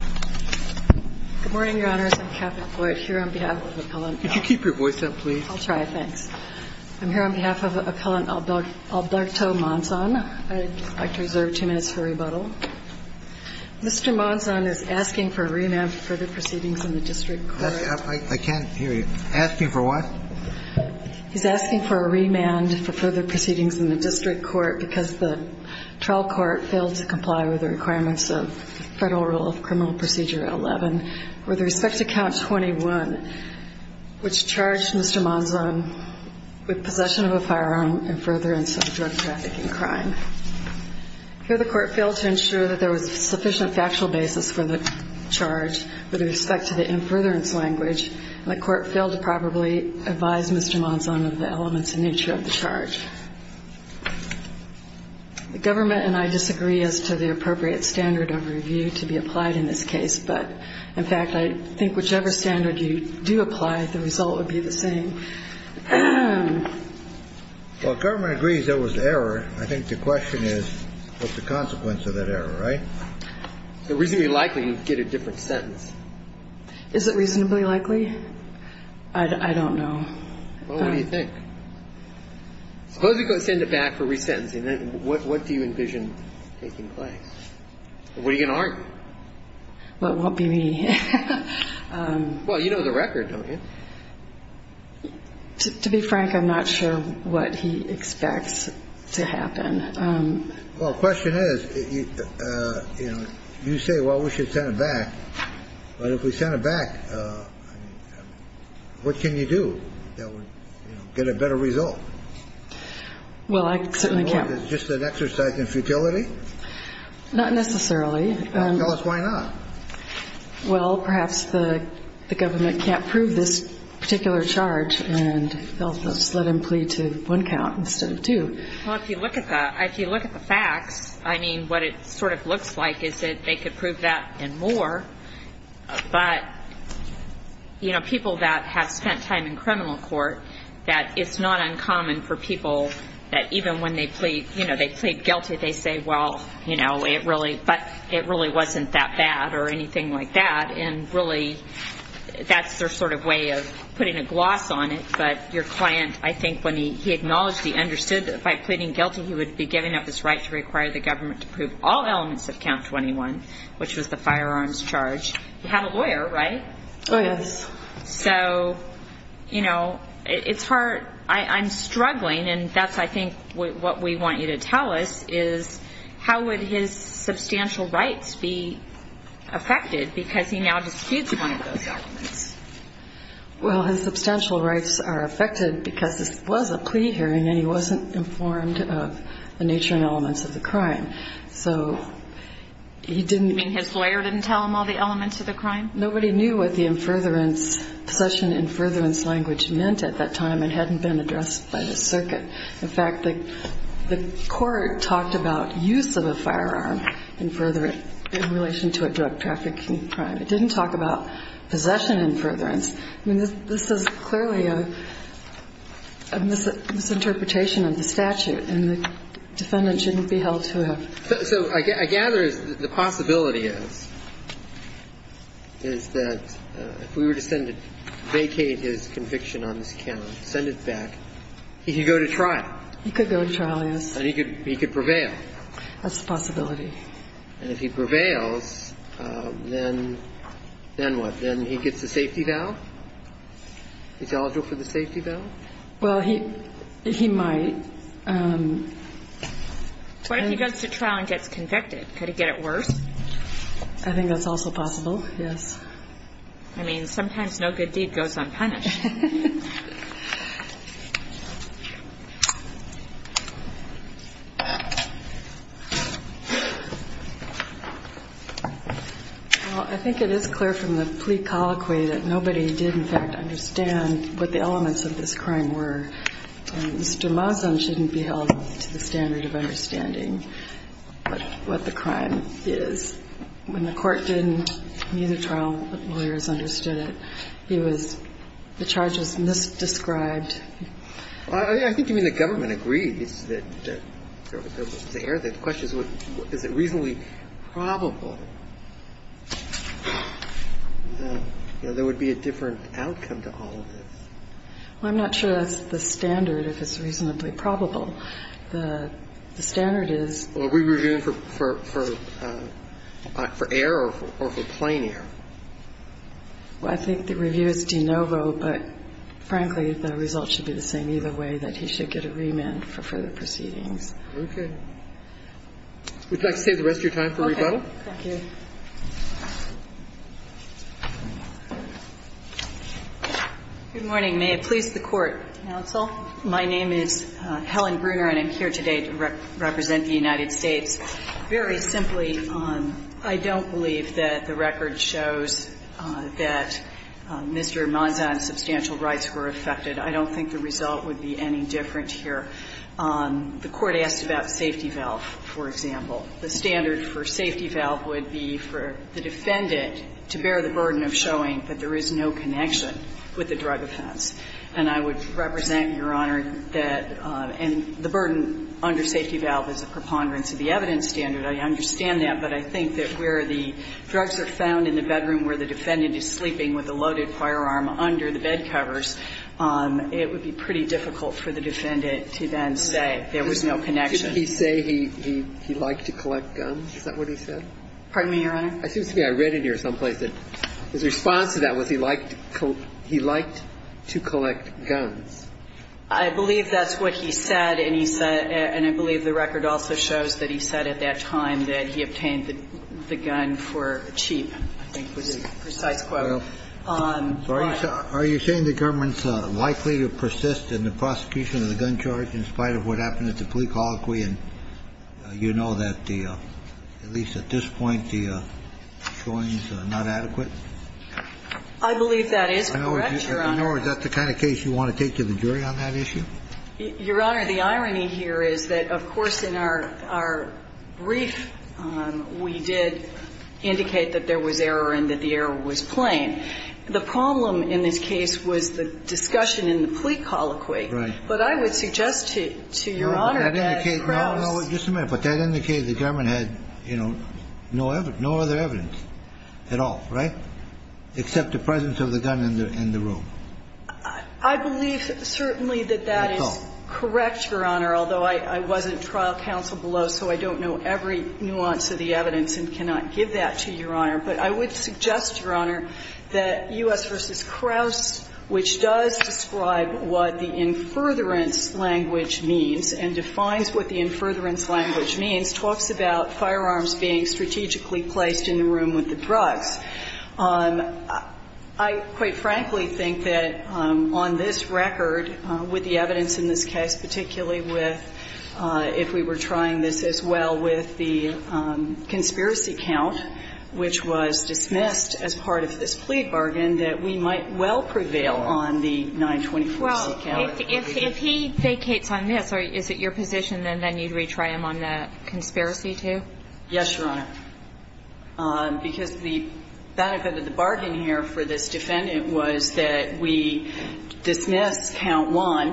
Good morning, Your Honors. I'm Catherine Floyd, here on behalf of Appellant Alberto Monzon. Could you keep your voice up, please? I'll try. Thanks. I'm here on behalf of Appellant Alberto Monzon. I'd like to reserve two minutes for rebuttal. Mr. Monzon is asking for a remand for further proceedings in the district court. I can't hear you. Asking for what? He's asking for a remand for further proceedings in the district court because the trial court failed to comply with the requirements of federal rule of criminal procedure 11 with respect to count 21, which charged Mr. Monzon with possession of a firearm and furtherance of drug trafficking crime. Here, the court failed to ensure that there was sufficient factual basis for the charge with respect to the infurtherance language, and the court failed to properly advise Mr. Monzon of the elements and nature of the charge. The government and I disagree as to the appropriate standard of review to be applied in this case. But, in fact, I think whichever standard you do apply, the result would be the same. Well, if government agrees there was error, I think the question is what's the consequence of that error, right? It's reasonably likely you'd get a different sentence. Is it reasonably likely? I don't know. Well, what do you think? Suppose we go send it back for resentencing. What do you envision taking place? What are you going to argue? Well, it won't be me. Well, you know the record, don't you? To be frank, I'm not sure what he expects to happen. Well, the question is, you know, you say, well, we should send it back. But if we send it back, what can you do that would get a better result? Well, I certainly can't. Just an exercise in futility? Not necessarily. Tell us why not. Well, perhaps the government can't prove this particular charge, and they'll just let him plead to one count instead of two. Well, if you look at the facts, I mean, what it sort of looks like is that they could prove that and more. But, you know, people that have spent time in criminal court, that it's not uncommon for people that even when they plead guilty, they say, well, you know, it really wasn't that bad or anything like that. And really that's their sort of way of putting a gloss on it. But your client, I think when he acknowledged he understood that by pleading guilty he would be giving up his right to require the government to prove all elements of count 21, which was the firearms charge, he had a lawyer, right? Oh, yes. So, you know, it's hard. I'm struggling, and that's, I think, what we want you to tell us is how would his substantial rights be affected because he now disputes one of those documents. Well, his substantial rights are affected because this was a plea hearing, and he wasn't informed of the nature and elements of the crime. So he didn't. You mean his lawyer didn't tell him all the elements of the crime? Nobody knew what the infurtherance, possession infurtherance language meant at that time. It hadn't been addressed by the circuit. In fact, the court talked about use of a firearm infurtherance in relation to a drug trafficking crime. It didn't talk about possession infurtherance. I mean, this is clearly a misinterpretation of the statute, and the defendant shouldn't be held to a. So I gather the possibility is, is that if we were to send it, vacate his conviction on this count, send it back, he could go to trial. He could go to trial, yes. And he could prevail. That's the possibility. And if he prevails, then what? Then he gets a safety valve? He's eligible for the safety valve? Well, he might. What if he goes to trial and gets convicted? Could he get it worse? I think that's also possible, yes. I mean, sometimes no good deed goes unpunished. Well, I think it is clear from the plea colloquy that nobody did, in fact, understand what the elements of this crime were. Mr. Mazan shouldn't be held to the standard of understanding what the crime is. When the court didn't need a trial, the lawyers understood it. The charge was misdescribed. I think you mean the government agreed that there was an error. The question is, is it reasonably probable that there would be a different outcome to all of this? Well, I'm not sure that's the standard, if it's reasonably probable. The standard is. Are we reviewing for error or for plain error? Well, I think the review is de novo, but, frankly, the result should be the same either way, that he should get a remand for further proceedings. Okay. Would you like to save the rest of your time for rebuttal? Okay. Thank you. Good morning. May it please the Court, counsel. My name is Helen Bruner, and I'm here today to represent the United States. Very simply, I don't believe that the record shows that Mr. Mazan's substantial rights were affected. I don't think the result would be any different here. The Court asked about safety valve, for example. The standard for safety valve would be for the defendant to bear the burden of showing that there is no connection with the drug offense. And I would represent, Your Honor, that the burden under safety valve is a preponderance of the evidence standard. I understand that. But I think that where the drugs are found in the bedroom where the defendant is sleeping with a loaded firearm under the bed covers, it would be pretty difficult for the defendant to then say there was no connection. Didn't he say he liked to collect guns? Is that what he said? Pardon me, Your Honor? It seems to me I read in here someplace that his response to that was he liked to collect guns. I believe that's what he said, and he said, and I believe the record also shows that he said at that time that he obtained the gun for cheap. I think that's a precise quote. Are you saying the government's likely to persist in the prosecution of the gun charge in spite of what happened at the police colloquy, and you know that the, at least at this point, the showing is not adequate? I believe that is correct, Your Honor. Your Honor, is that the kind of case you want to take to the jury on that issue? Your Honor, the irony here is that, of course, in our brief, we did indicate that there was error and that the error was plain. The problem in this case was the discussion in the police colloquy. Right. But I would suggest to Your Honor that Krauss Just a minute. But that indicated the government had, you know, no other evidence at all, right, except the presence of the gun in the room. I believe certainly that that is correct, Your Honor, although I wasn't trial counsel below, so I don't know every nuance of the evidence and cannot give that to Your But I would suggest, Your Honor, that U.S. v. Krauss, which does describe what the in furtherance language means and defines what the in furtherance language means, talks about firearms being strategically placed in the room with the drugs. I quite frankly think that on this record, with the evidence in this case, particularly with if we were trying this as well with the conspiracy count, which was dismissed as part of this plea bargain, that we might well prevail on the 924 conspiracy count. If he vacates on this, is it your position that then you'd retry him on the conspiracy too? Yes, Your Honor. Because the benefit of the bargain here for this defendant was that we dismissed count one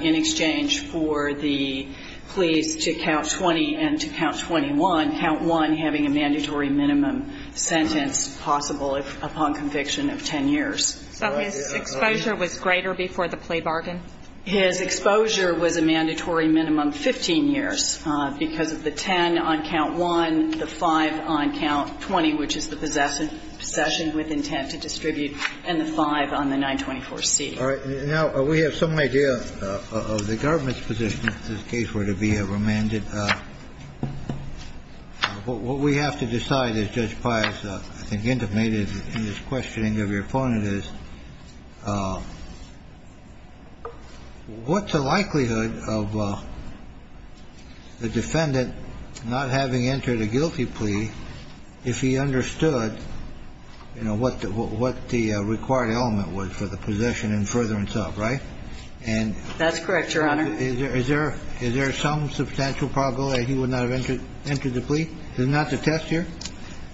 in exchange for the pleas to count 20 and to count 21, count one having a mandatory minimum sentence possible upon conviction of 10 years. So his exposure was greater before the plea bargain? His exposure was a mandatory minimum 15 years because of the 10 on count one, the five on count 20, which is the possession with intent to distribute, and the five on the 924C. All right. Now, we have some idea of the government's position if this case were to be remanded. What we have to decide is, Judge Pius, I think intimated in this questioning of your opponent is, what's the likelihood of the defendant not having entered a guilty plea if he understood, you know, what the required element was for the possession and furtherance of, right? That's correct, Your Honor. Is there some substantial probability that he would not have entered the plea? Is that not the test here?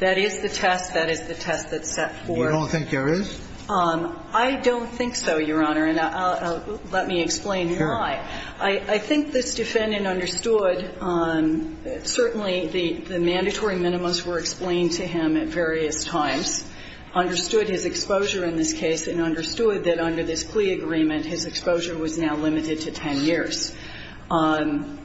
That is the test. That is the test that's set forth. You don't think there is? I don't think so, Your Honor. And let me explain why. Sure. I think this defendant understood certainly the mandatory minimums were explained to him at various times, understood his exposure in this case, and understood that under this plea agreement his exposure was now limited to 10 years.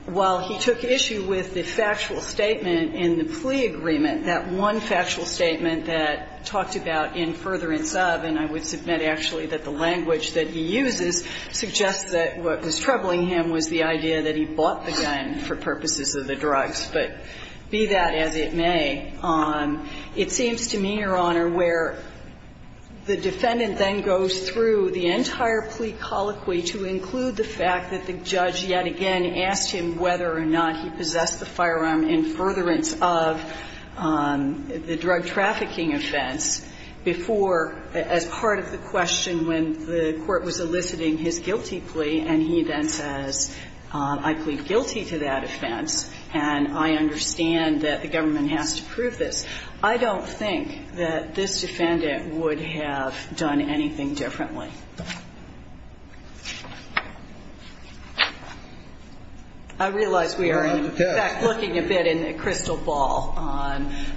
While he took issue with the factual statement in the plea agreement, that one factual statement that talked about in furtherance of, and I would submit actually that the language that he uses suggests that what was troubling him was the idea that he bought the gun for purposes of the drugs. But be that as it may, it seems to me, Your Honor, where the defendant then goes through the entire plea colloquy to include the fact that the judge yet again asked him whether or not he possessed the firearm in furtherance of the drug trafficking offense before, as part of the question when the court was eliciting his guilty plea, and he then says, I plead guilty to that offense, and I understand that the government has to prove this. I don't think that this defendant would have done anything differently. I realize we are, in fact, looking a bit in a crystal ball,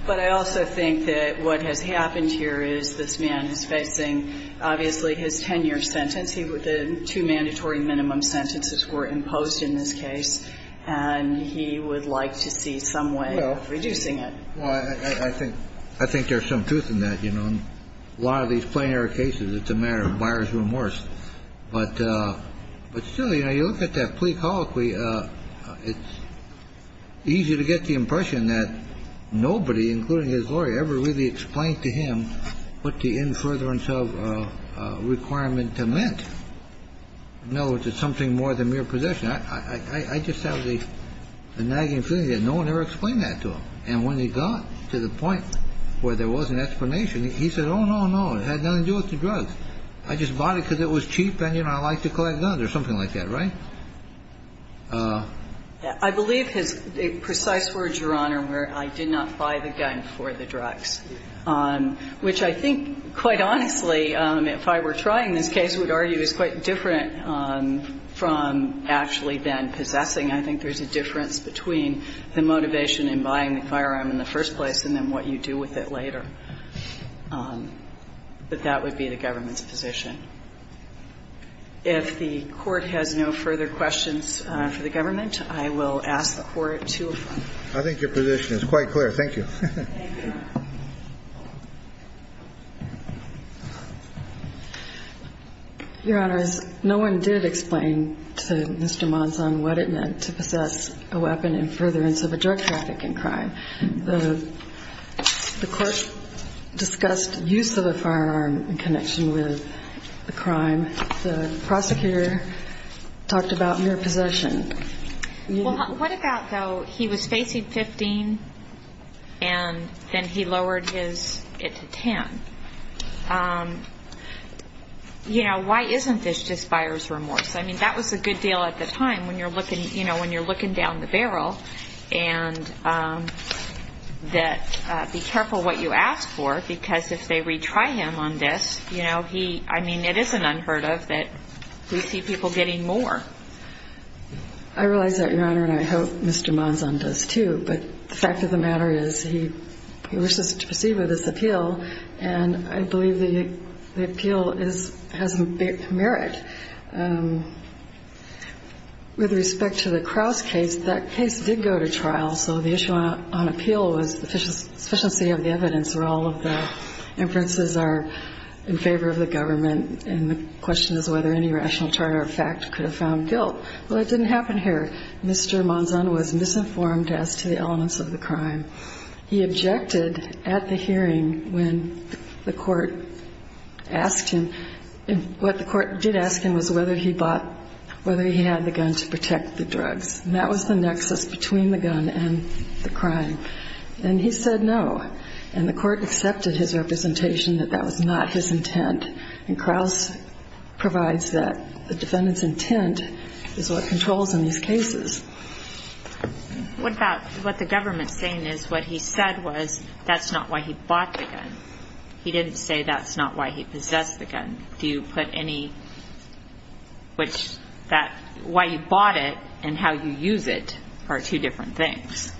but I also think that what has happened here is this man is facing, obviously, his 10-year sentence. The two mandatory minimum sentences were imposed in this case, and he would like to see some way of reducing it. No. Well, I think there's some truth in that. A lot of these plenary cases, it's a matter of buyers and sellers. But still, you know, you look at that plea colloquy, it's easy to get the impression that nobody, including his lawyer, ever really explained to him what the in furtherance of requirement meant. In other words, it's something more than mere possession. I just have the nagging feeling that no one ever explained that to him. And when he got to the point where there was an explanation, he said, oh, no, no, it had nothing to do with the drugs. I just bought it because it was cheap and, you know, I like to collect guns or something like that, right? I believe his precise words, Your Honor, were I did not buy the gun for the drugs, which I think, quite honestly, if I were trying this case, would argue is quite different from actually then possessing. I think there's a difference between the motivation in buying the firearm in the first place and then what you do with it later. But that would be the government's position. If the Court has no further questions for the government, I will ask the Court to adjourn. I think your position is quite clear. Thank you. Thank you. Your Honors, no one did explain to Mr. Monson what it meant to possess a weapon in furtherance of a drug trafficking crime. The Court discussed use of a firearm in connection with the crime. The prosecutor talked about mere possession. Well, what about, though, he was facing 15 and then he lowered it to 10? You know, why isn't this just buyer's remorse? I mean, that was a good deal at the time when you're looking down the barrel and that be careful what you ask for because if they retry him on this, you know, I mean, it isn't unheard of that we see people getting more. I realize that, Your Honor, and I hope Mr. Monson does too. But the fact of the matter is he wishes to proceed with this appeal, and I believe the appeal has merit. With respect to the Krauss case, that case did go to trial, so the issue on appeal was the sufficiency of the evidence where all of the inferences are in favor of the government, and the question is whether any rational charter of fact could have found guilt. Well, it didn't happen here. Mr. Monson was misinformed as to the elements of the crime. He objected at the hearing when the Court asked him, and what the Court did ask him was whether he bought, whether he had the gun to protect the drugs, and that was the nexus between the gun and the crime, and he said no, and the Court accepted his representation that that was not his intent, and Krauss provides that the defendant's intent is what controls in these cases. What about what the government's saying is what he said was that's not why he bought the gun. He didn't say that's not why he possessed the gun. Do you put any, which that, why you bought it and how you use it are two different things.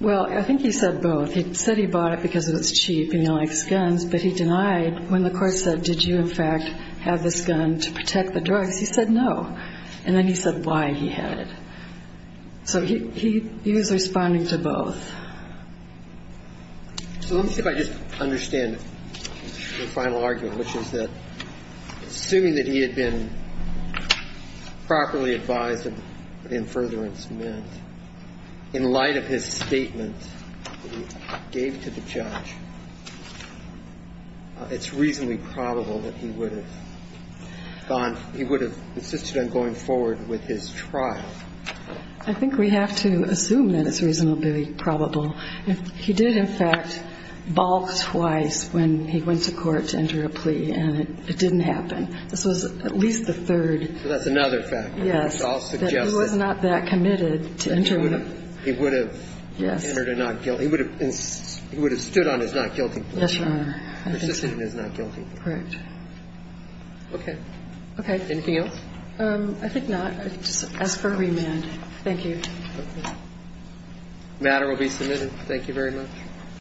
Well, I think he said both. He said he bought it because it was cheap and he likes guns, but he denied when the Court said did you, in fact, have this gun to protect the drugs. He said no, and then he said why he had it. So he was responding to both. So let me see if I just understand the final argument, which is that assuming that he had been properly advised of what infuriants meant, in light of his statement that he gave to the judge, it's reasonably probable that he would have gone, I think we have to assume that it's reasonably probable. He did, in fact, balk twice when he went to court to enter a plea, and it didn't happen. This was at least the third. So that's another factor. Yes. I'll suggest that. He was not that committed to entering. He would have. Yes. He would have stood on his not guilty plea. Yes, Your Honor. Persistent in his not guilty plea. Correct. Okay. Okay. Anything else? I think not. Just ask for a remand. Thank you. Okay. The matter will be submitted. Thank you very much.